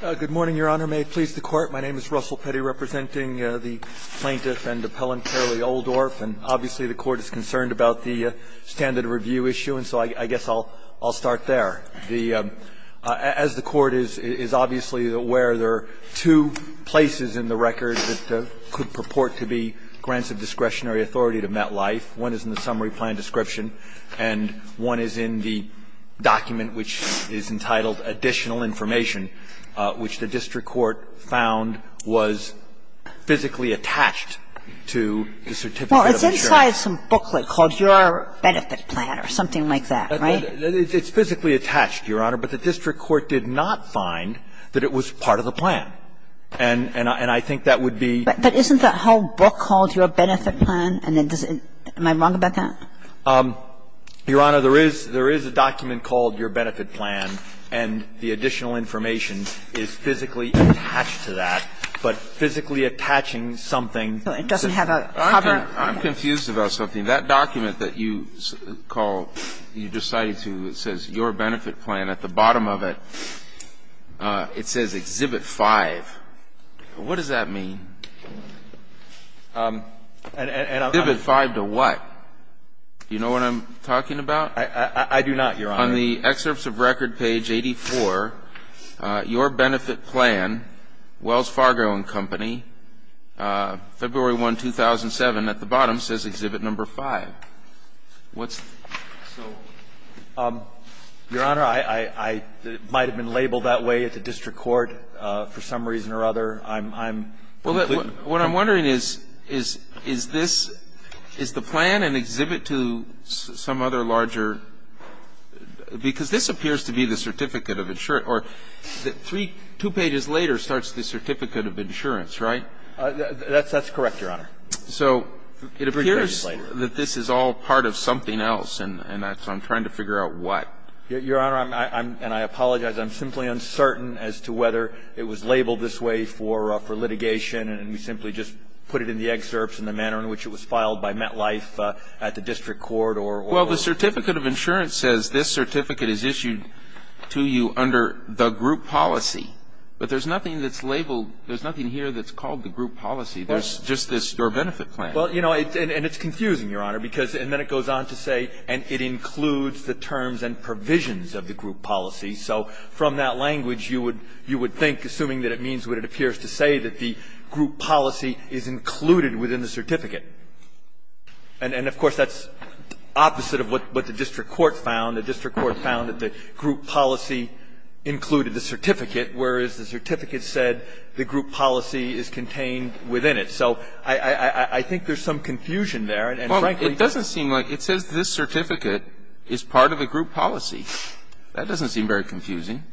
Good morning, Your Honor. May it please the Court, my name is Russell Petty, representing the plaintiff and appellant Carilei Oldoerp. And obviously the Court is concerned about the standard of review issue, and so I guess I'll start there. As the Court is obviously aware, there are two places in the record that could purport to be grants of discretionary authority to MetLife. One is in the summary plan description, and one is in the document, which is entitled Additional Information, which the district court found was physically attached to the certificate of insurance. Well, it's inside some booklet called Your Benefit Plan or something like that, right? It's physically attached, Your Honor, but the district court did not find that it was part of the plan. And I think that would be – But isn't that whole book called Your Benefit Plan, and then does it – am I wrong about that? Your Honor, there is – there is a document called Your Benefit Plan, and the additional information is physically attached to that, but physically attaching something to it doesn't have a cover. I'm confused about something. That document that you call – you decided to – it says Your Benefit Plan. At the bottom of it, it says Exhibit 5. What does that mean? And I'm not – Exhibit 5 to what? Do you know what I'm talking about? I do not, Your Honor. On the excerpts of record, page 84, Your Benefit Plan, Wells Fargo & Company, February 1, 2007, at the bottom says Exhibit No. 5. What's – So, Your Honor, I – it might have been labeled that way at the district court for some reason or other. I'm – Well, what I'm wondering is, is this – is the plan an exhibit to some other larger – because this appears to be the Certificate of – or three – two pages later starts the Certificate of Insurance, right? That's correct, Your Honor. So it appears that this is all part of something else, and that's – I'm trying to figure out what. Your Honor, I'm – and I apologize. I'm simply uncertain as to whether it was labeled this way for litigation, and we simply just put it in the excerpts in the manner in which it was filed by MetLife at the district court or – Well, the Certificate of Insurance says this certificate is issued to you under the group policy, but there's nothing that's labeled – there's nothing here that's called the group policy. There's just this Your Benefit Plan. Well, you know, and it's confusing, Your Honor, because – and then it goes on to say – and it includes the terms and provisions of the group policy. So from that language, you would – you would think, assuming that it means what it appears to say, that the group policy is included within the certificate. And, of course, that's opposite of what the district court found. The district court found that the group policy included the certificate, whereas the certificate said the group policy is contained within it. So I think there's some confusion there, and frankly – Well, it doesn't seem like – it says this certificate is part of a group policy. That doesn't seem very confusing.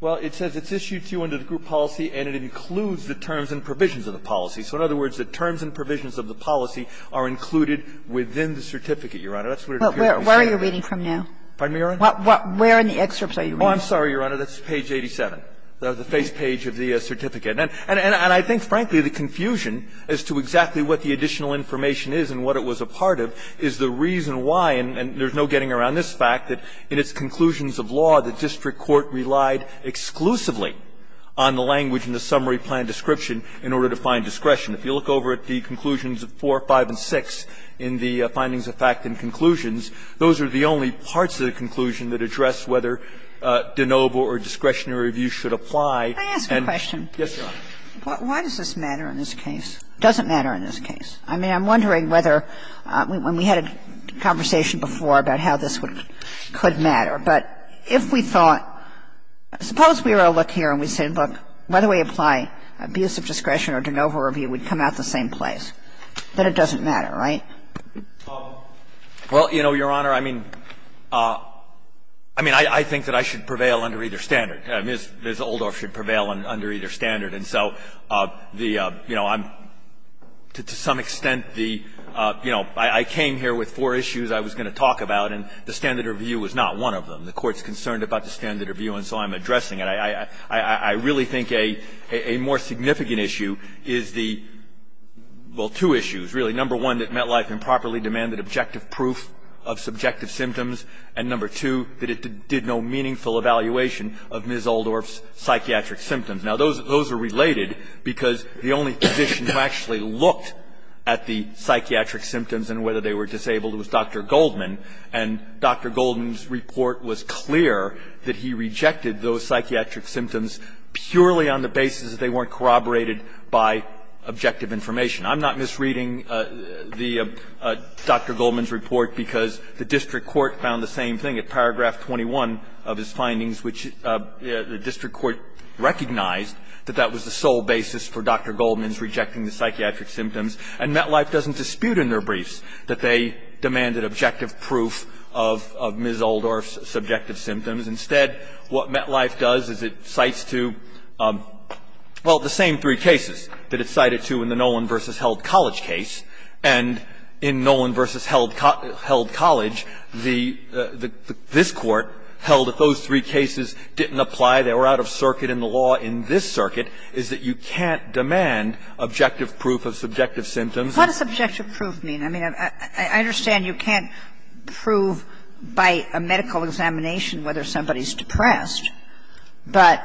Well, it says it's issued to you under the group policy, and it includes the terms and provisions of the policy. So in other words, the terms and provisions of the policy are included within the certificate, Your Honor. That's what it appears to be saying. Well, where are you reading from now? Pardon me, Your Honor? Where in the excerpts are you reading? Oh, I'm sorry, Your Honor. That's page 87, the face page of the certificate. And I think, frankly, the confusion as to exactly what the additional information is and what it was a part of is the reason why – and there's no getting around this fact that in its conclusions of law, the district court relied exclusively on the language in the summary plan description in order to find discretion. If you look over at the conclusions of 4, 5, and 6 in the findings of fact and conclusions, those are the only parts of the conclusion that address whether de novo or discretionary view should apply. Can I ask a question? Yes, Your Honor. Why does this matter in this case? It doesn't matter in this case. I mean, I'm wondering whether – when we had a conversation before about how this would – could matter, but if we thought – suppose we were to look here and we said, look, whether we apply abuse of discretion or de novo review would come out the same place, that it doesn't matter, right? Well, you know, Your Honor, I mean – I mean, I think that I should prevail under either standard. Ms. Oldorf should prevail under either standard. And so the – you know, I'm – to some extent, the – you know, I came here with four issues I was going to talk about, and the standard review was not one of them. The Court is concerned about the standard review, and so I'm addressing it. I really think a more significant issue is the – well, two issues, really. Number one, that MetLife improperly demanded objective proof of subjective symptoms. And number two, that it did no meaningful evaluation of Ms. Oldorf's psychiatric symptoms. Now, those – those are related because the only physician who actually looked at the psychiatric symptoms and whether they were disabled was Dr. Goldman, and Dr. Goldman's report was clear that he rejected those psychiatric symptoms purely on the basis that they weren't corroborated by objective information. I'm not misreading the – Dr. Goldman's report because the district court found the same thing at paragraph 21 of his findings, which the district court recognized that that was the sole basis for Dr. Goldman's rejecting the psychiatric symptoms. And MetLife doesn't dispute in their briefs that they demanded objective proof of Ms. Oldorf's subjective symptoms. Instead, what MetLife does is it cites to – well, the same three cases that it cited to in the Nolan v. Held College case. And in Nolan v. Held College, the – this court held if those three cases didn't apply, they were out of circuit in the law in this circuit, is that you can't demand objective proof of subjective symptoms. What does objective proof mean? I mean, I understand you can't prove by a medical examination whether somebody is depressed, but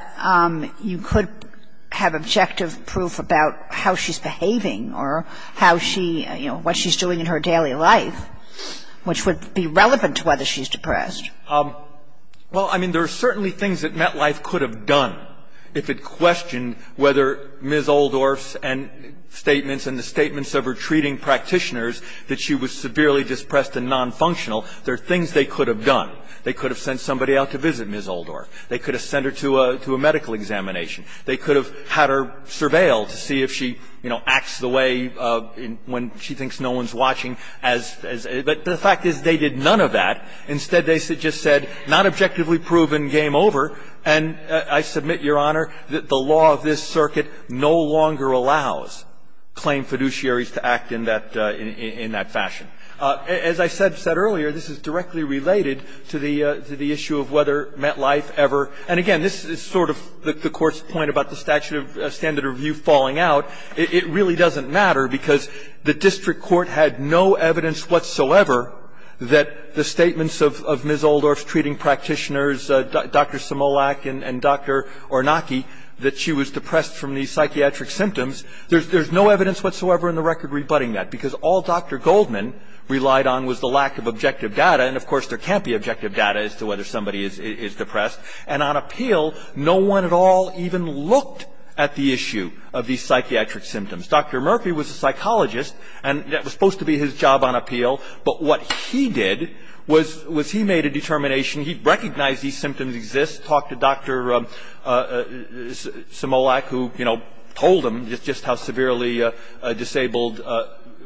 you could have objective proof about how she's behaving or how she – you know, what she's doing in her daily life, which would be relevant to whether she's depressed. Well, I mean, there are certainly things that MetLife could have done if it questioned whether Ms. Oldorf's statements and the statements of her treating practitioners that she was severely depressed and nonfunctional, there are things they could have done. They could have sent somebody out to visit Ms. Oldorf. They could have sent her to a medical examination. They could have had her surveilled to see if she, you know, acts the way when she thinks no one's watching as – but the fact is they did none of that. Instead, they just said, not objectively proven, game over. And I submit, Your Honor, that the law of this circuit no longer allows claimed fiduciaries to act in that – in that fashion. As I said earlier, this is directly related to the issue of whether MetLife ever – and again, this is sort of the Court's point about the statute of standard review falling out. It really doesn't matter because the district court had no evidence whatsoever that the statements of Ms. Oldorf's treating practitioners, Dr. Simolak and Dr. Ornacki, that she was depressed from these psychiatric symptoms, there's no evidence whatsoever in the record rebutting that because all Dr. Goldman relied on was the lack of objective data. And of course, there can't be objective data as to whether somebody is depressed. And on appeal, no one at all even looked at the issue of these psychiatric symptoms. Dr. Murphy was a psychologist and that was supposed to be his job on appeal. But what he did was he made a determination. He recognized these symptoms exist, talked to Dr. Simolak who, you know, told him just how severely disabled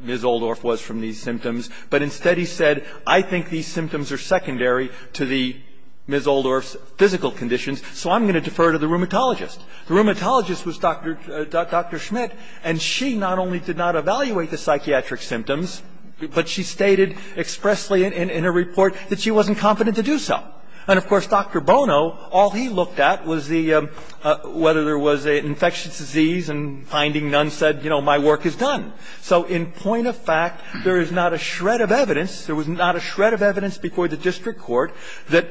Ms. Oldorf was from these symptoms. But instead he said, I think these symptoms are secondary to the – Ms. Oldorf's physical conditions, so I'm going to defer to the rheumatologist. The rheumatologist was Dr. Schmidt and she not only did not evaluate the psychiatric symptoms, but she stated expressly in her report that she wasn't confident to do so. And of course, Dr. Bono, all he looked at was the – whether there was an infectious disease and finding none said, you know, my work is done. So in point of fact, there is not a shred of evidence. There was not a shred of evidence before the district court that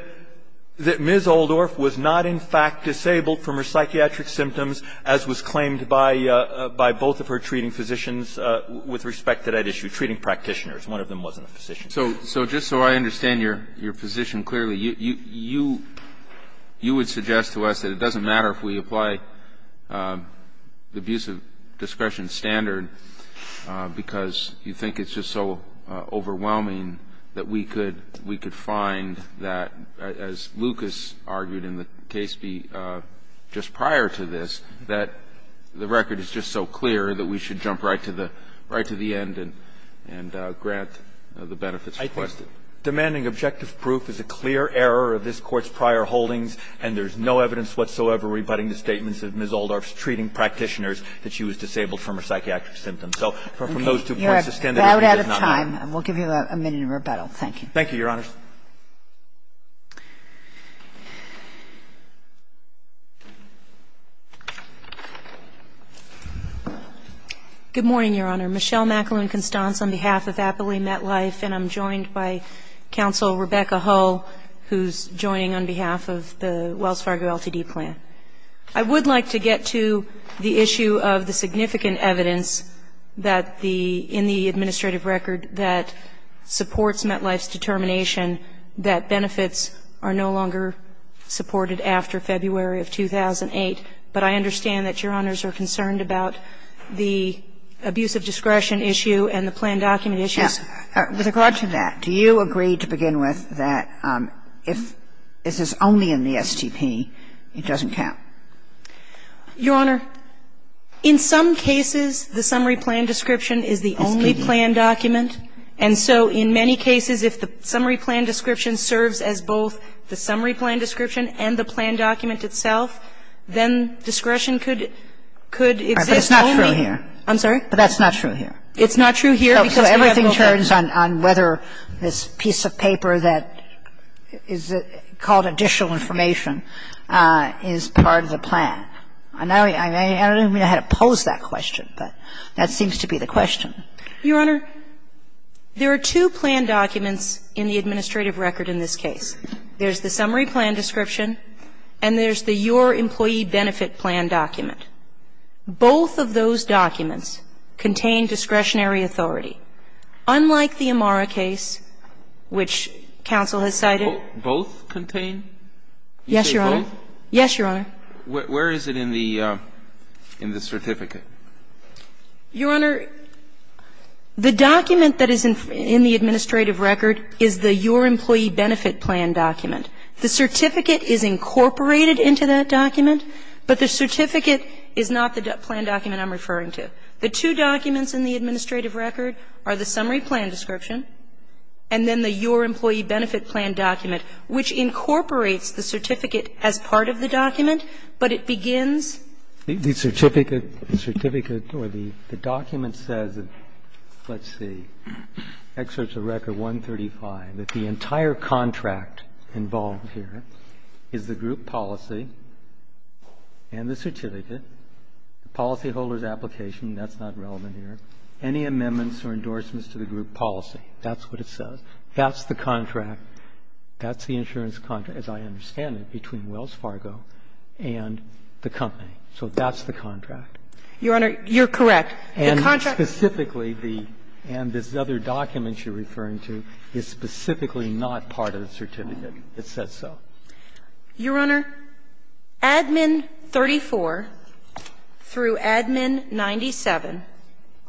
Ms. Oldorf was not in fact disabled from her psychiatric symptoms as was claimed by both of her treating physicians with respect to that issue, treating practitioners. One of them wasn't a physician. So just so I understand your position clearly, you would suggest to us that it doesn't matter if we apply the abuse of discretion standard because you think it's just so overwhelming that we could find that, as Lucas argued in the case just prior to this, that the record is just so clear that we should jump right to the end and grant the benefits requested. I think demanding objective proof is a clear error of this Court's prior holdings and there's no evidence whatsoever rebutting the statements of Ms. Oldorf's treating practitioners that she was disabled from her psychiatric symptoms. So from those two points, the standard issue does not matter. Okay. You're about out of time. We'll give you a minute in rebuttal. Thank you. Thank you, Your Honors. Good morning, Your Honor. Michelle McAloon Constance on behalf of Aptly Met Life and I'm joined by Counsel Rebecca Hull who's joining on behalf of the Wells Fargo LTD plan. I would like to get to the issue of the significant evidence that the, in the administrative record that supports Met Life's determination that benefits are no longer supported after February of 2008, but I understand that Your Honors are concerned about the abuse of discretion issue and the plan document issues. Yes. With regard to that, do you agree to begin with that if this is only in the STP, it doesn't count? Your Honor, in some cases, the summary plan description is the only plan document and so in many cases, if the summary plan description serves as both the summary plan description and the plan document itself, then discretion could, could exist only. But it's not true here. I'm sorry? But that's not true here. It's not true here because we have a little bit. So everything turns on whether this piece of paper that is called additional information is part of the plan. I don't even know how to pose that question, but that seems to be the question. Your Honor, there are two plan documents in the administrative record in this case. There's the summary plan description and there's the Your Employee Benefit Plan document. Both of those documents contain discretionary authority. Unlike the Amara case, which counsel has cited. Both contain? Yes, Your Honor. You say both? Yes, Your Honor. Where is it in the certificate? Your Honor, the document that is in the administrative record is the Your Employee Benefit Plan document. The certificate is incorporated into that document, but the certificate is not the plan document I'm referring to. The two documents in the administrative record are the summary plan description and then the Your Employee Benefit Plan document, which incorporates the certificate as part of the document, but it begins. The certificate, the certificate or the document says, let's see, excerpts of record 135, that the entire contract involved here is the group policy and the certificate, the policyholder's application. That's not relevant here. Any amendments or endorsements to the group policy. That's what it says. That's the contract. That's the insurance contract, as I understand it, between Wells Fargo and the company. So that's the contract. Your Honor, you're correct. The contract. And specifically, the other document you're referring to is specifically not part of the certificate. It says so. Your Honor, Admin 34 through Admin 97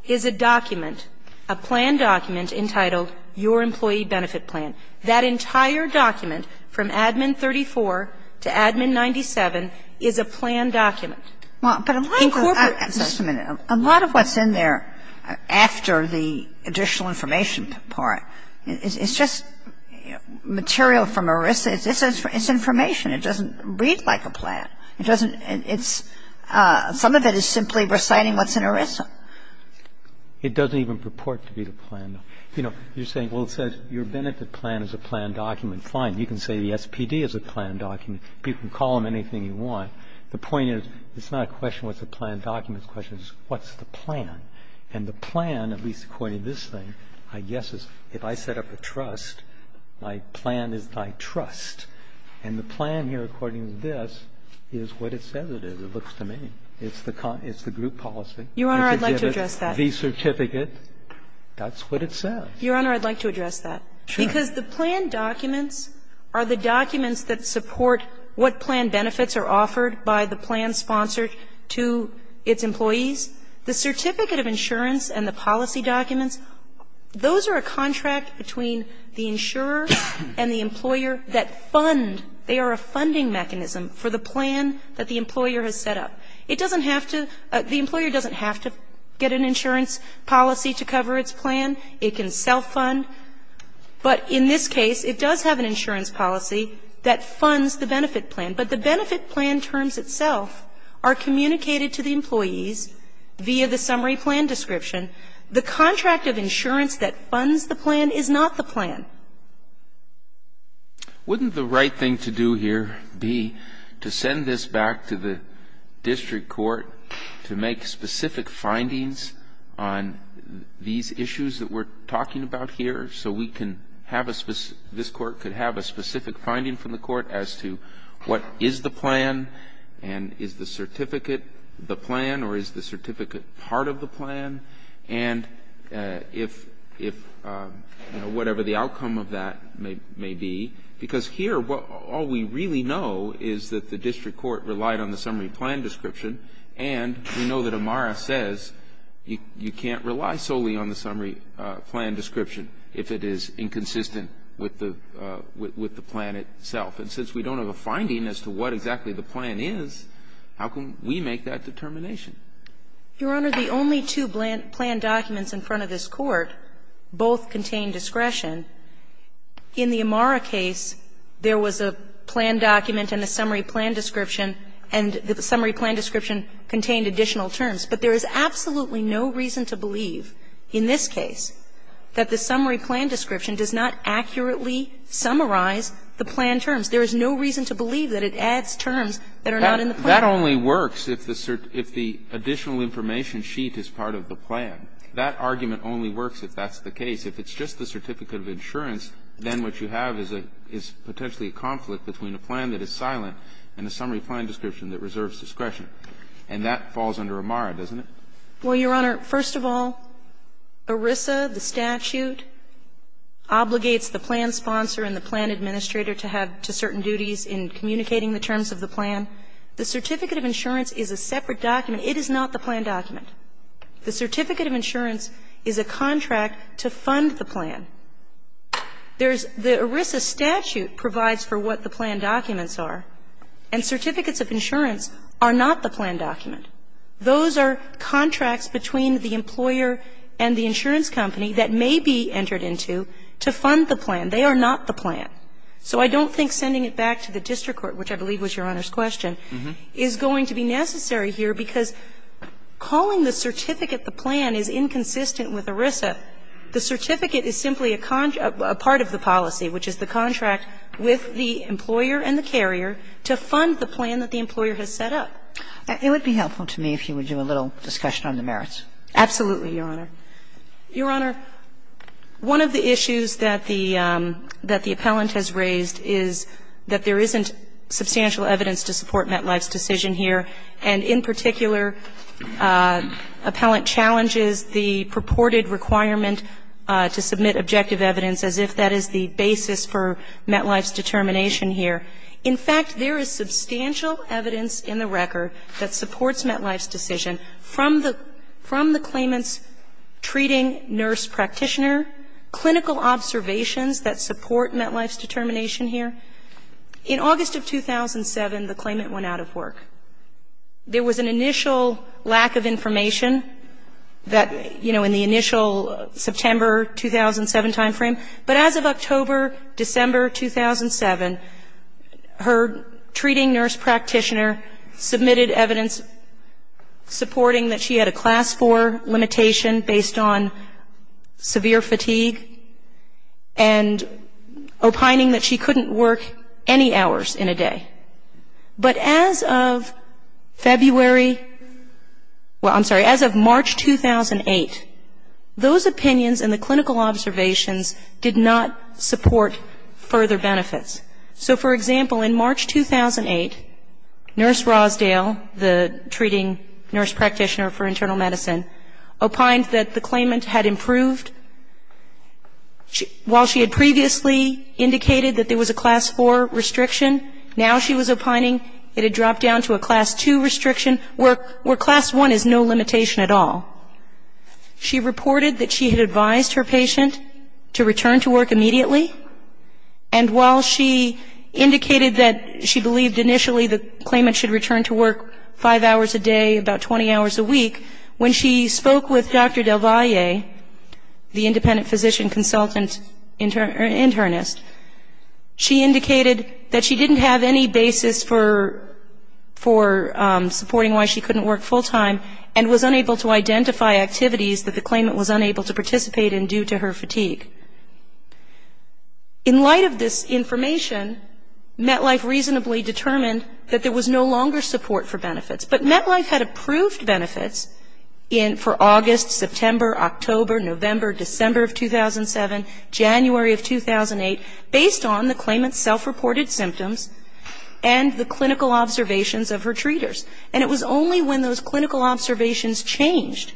is a document, a plan document entitled Your Employee Benefit Plan. That entire document from Admin 34 to Admin 97 is a plan document. Well, but a lot of what's in there after the additional information part is just material from ERISA. It's information. It doesn't read like a plan. It doesn't, it's, some of it is simply reciting what's in ERISA. It doesn't even purport to be the plan. You know, you're saying, well, it says Your Benefit Plan is a plan document. Fine. You can call them anything you want. The point is, it's not a question what's a plan document. The question is, what's the plan? And the plan, at least according to this thing, I guess is if I set up a trust, my plan is my trust. And the plan here, according to this, is what it says it is. It looks to me. It's the group policy. Your Honor, I'd like to address that. The certificate. That's what it says. Your Honor, I'd like to address that. Sure. Because the plan documents are the documents that support what plan benefits are offered by the plan sponsored to its employees. The certificate of insurance and the policy documents, those are a contract between the insurer and the employer that fund. They are a funding mechanism for the plan that the employer has set up. It doesn't have to, the employer doesn't have to get an insurance policy to cover its plan. It can self-fund. But in this case, it does have an insurance policy that funds the benefit plan. But the benefit plan terms itself are communicated to the employees via the summary plan description. The contract of insurance that funds the plan is not the plan. Wouldn't the right thing to do here be to send this back to the district court to make specific findings on these issues that we're talking about here, so we can have a specific finding from the court as to what is the plan and is the certificate the plan or is the certificate part of the plan and if, you know, whatever the outcome of that may be. Because here, all we really know is that the district court relied on the summary plan description and we know that Amara says you can't rely solely on the summary plan description if it is inconsistent with the plan itself. And since we don't have a finding as to what exactly the plan is, how can we make that determination? Your Honor, the only two plan documents in front of this Court both contain discretion. In the Amara case, there was a plan document and a summary plan description and the summary plan description contained additional terms. But there is absolutely no reason to believe in this case that the summary plan description does not accurately summarize the plan terms. There is no reason to believe that it adds terms that are not in the plan. That only works if the additional information sheet is part of the plan. That argument only works if that's the case. If it's just the certificate of insurance, then what you have is potentially a conflict between a plan that is silent and a summary plan description that reserves discretion. And that falls under Amara, doesn't it? Well, Your Honor, first of all, ERISA, the statute, obligates the plan sponsor and the plan administrator to have to certain duties in communicating the terms of the plan. The certificate of insurance is a separate document. It is not the plan document. The certificate of insurance is a contract to fund the plan. There's the ERISA statute provides for what the plan documents are. And certificates of insurance are not the plan document. Those are contracts between the employer and the insurance company that may be entered into to fund the plan. They are not the plan. So I don't think sending it back to the district court, which I believe was Your Honor's question, is going to be necessary here, because calling the certificate the plan is inconsistent with ERISA. The certificate is simply a part of the policy, which is the contract with the employer and the carrier to fund the plan that the employer has set up. It would be helpful to me if you would do a little discussion on the merits. Absolutely, Your Honor. Your Honor, one of the issues that the appellant has raised is that there isn't substantial evidence to support Metlife's decision here. And in particular, appellant challenges the purported requirement to submit objective evidence as if that is the basis for Metlife's determination here. In fact, there is substantial evidence in the record that supports Metlife's decision from the claimant's treating nurse practitioner, clinical observations that support Metlife's determination here. In August of 2007, the claimant went out of work. There was an initial lack of information that, you know, in the initial September 2007 timeframe, but as of October, December 2007, her treating nurse practitioner submitted evidence supporting that she had a class four limitation based on severe fatigue and opining that she couldn't work any hours in a day. But as of February, well, I'm sorry, as of March 2008, those opinions in the clinical observations did not support further benefits. So, for example, in March 2008, Nurse Rosedale, the treating nurse practitioner for internal medicine, opined that the claimant had improved. While she had previously indicated that there was a class four restriction, now she was opining it had dropped down to a class two restriction, where class one is no limitation at all. She reported that she had advised her patient to return to work immediately, and while she indicated that she believed initially the claimant should return to work five hours a day, about 20 hours a week, when she spoke with Dr. Del Valle, the independent physician consultant internist, she indicated that she didn't have any basis for supporting why she couldn't work full time and was unable to identify activities that the claimant was unable to participate in due to her fatigue. In light of this information, MetLife reasonably determined that there was no longer support for benefits, but MetLife had approved benefits for August, September, October, November, December of 2007, January of 2008, based on the claimant's self-reported symptoms and the clinical observations of her treaters. And it was only when those clinical observations changed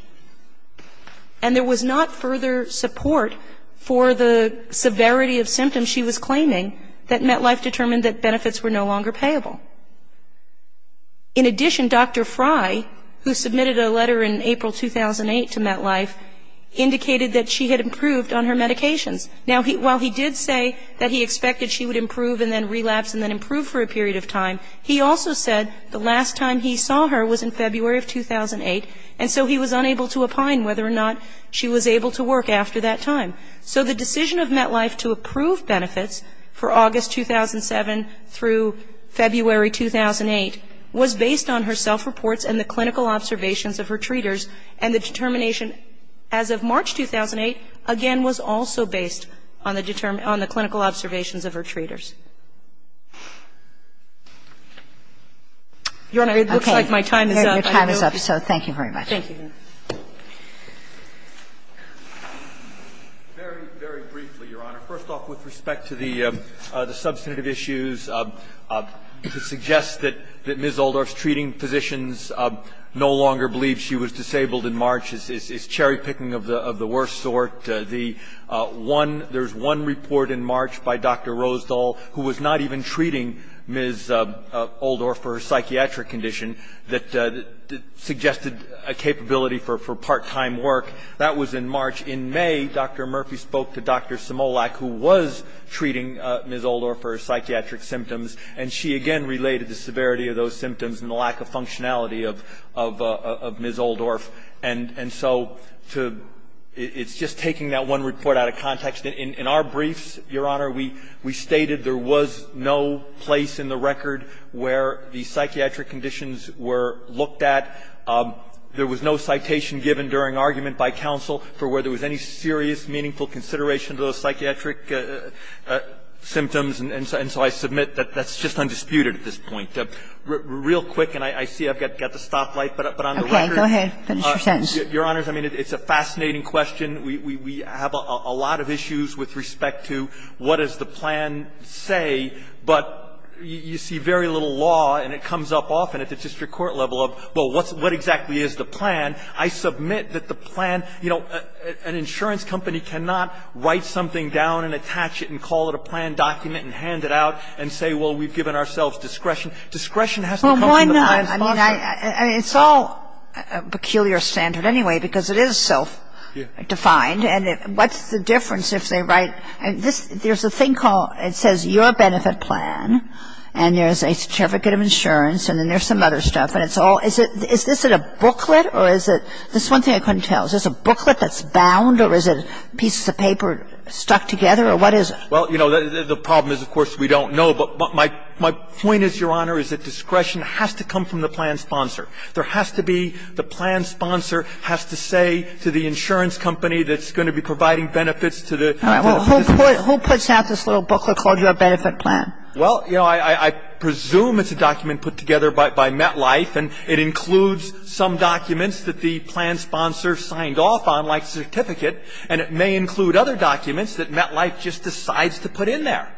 and there was not further support for the severity of symptoms she was claiming that MetLife determined that benefits were no longer payable. In addition, Dr. Frey, who submitted a letter in April 2008 to MetLife, indicated that she had improved on her medications. Now, while he did say that he expected she would improve and then relapse and then he saw her was in February of 2008, and so he was unable to opine whether or not she was able to work after that time. So the decision of MetLife to approve benefits for August 2007 through February 2008 was based on her self-reports and the clinical observations of her treaters and the determination as of March 2008, again, was also based on the clinical observations of her treaters. Your Honor, it looks like my time is up. Your time is up. So thank you very much. Thank you. Very, very briefly, Your Honor. First off, with respect to the substantive issues, to suggest that Ms. Oldorf's treating physicians no longer believe she was disabled in March is cherry-picking of the worst sort. The one, there's one report in March by Dr. Rosdahl who was not even treating Ms. Oldorf for her psychiatric condition that suggested a capability for part-time work. That was in March. In May, Dr. Murphy spoke to Dr. Simolak, who was treating Ms. Oldorf for her psychiatric symptoms, and she, again, related the severity of those symptoms and the lack of functionality of Ms. Oldorf. And so to ‑‑ it's just taking that one report out of context. In our briefs, Your Honor, we stated there was no place in the record where the psychiatric conditions were looked at. There was no citation given during argument by counsel for whether there was any serious, meaningful consideration to those psychiatric symptoms. And so I submit that that's just undisputed at this point. Real quick, and I see I've got the stoplight, but on the record ‑‑ Kagan. Go ahead. Finish your sentence. Your Honors, I mean, it's a fascinating question. We have a lot of issues with respect to what does the plan say, but you see very little law, and it comes up often at the district court level of, well, what exactly is the plan? I submit that the plan ‑‑ you know, an insurance company cannot write something down and attach it and call it a plan document and hand it out and say, well, we've given ourselves discretion. Discretion has to come from the plan sponsor. Well, one ‑‑ I mean, it's all a peculiar standard anyway, because it is self‑defined. And what's the difference if they write ‑‑ there's a thing called ‑‑ it says your benefit plan, and there's a certificate of insurance, and then there's some other stuff. And it's all ‑‑ is this a booklet or is it ‑‑ there's one thing I couldn't tell. Is this a booklet that's bound or is it pieces of paper stuck together or what is it? Well, you know, the problem is, of course, we don't know. But my point is, Your Honor, is that discretion has to come from the plan sponsor. There has to be the plan sponsor has to say to the insurance company that's going to be providing benefits to the ‑‑ All right. Well, who puts out this little booklet called your benefit plan? Well, you know, I presume it's a document put together by MetLife, and it includes some documents that the plan sponsor signed off on, like certificate, and it may include other documents that MetLife just decides to put in there.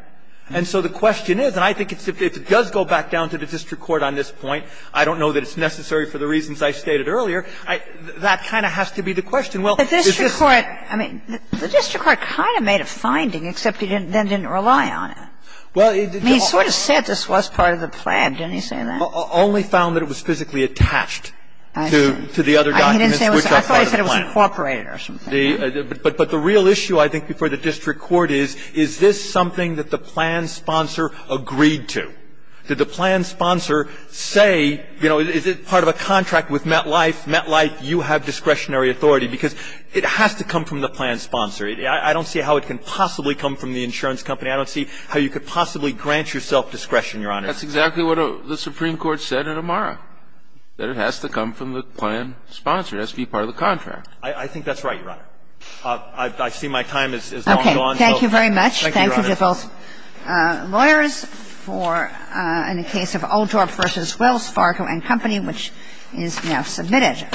And so the question is, and I think if it does go back down to the district court on this point, I don't know that it's necessary for the reasons I stated earlier. That kind of has to be the question. Well, is this ‑‑ The district court ‑‑ I mean, the district court kind of made a finding, except he then didn't rely on it. Well, it ‑‑ He sort of said this was part of the plan. Didn't he say that? Only found that it was physically attached to the other documents, which are part of the plan. I thought he said it was incorporated or something. But the real issue, I think, before the district court is, is this something that the plan sponsor agreed to? Did the plan sponsor say, you know, is it part of a contract with MetLife? MetLife, you have discretionary authority. Because it has to come from the plan sponsor. I don't see how it can possibly come from the insurance company. I don't see how you could possibly grant yourself discretion, Your Honor. That's exactly what the Supreme Court said at Amara, that it has to come from the plan sponsor. It has to be part of the contract. I think that's right, Your Honor. I see my time is long gone. Okay. Thank you very much. Thank you, Your Honor. Thank you to both lawyers for the case of Oldhorp v. Wells, Fargo & Company, which is now submitted.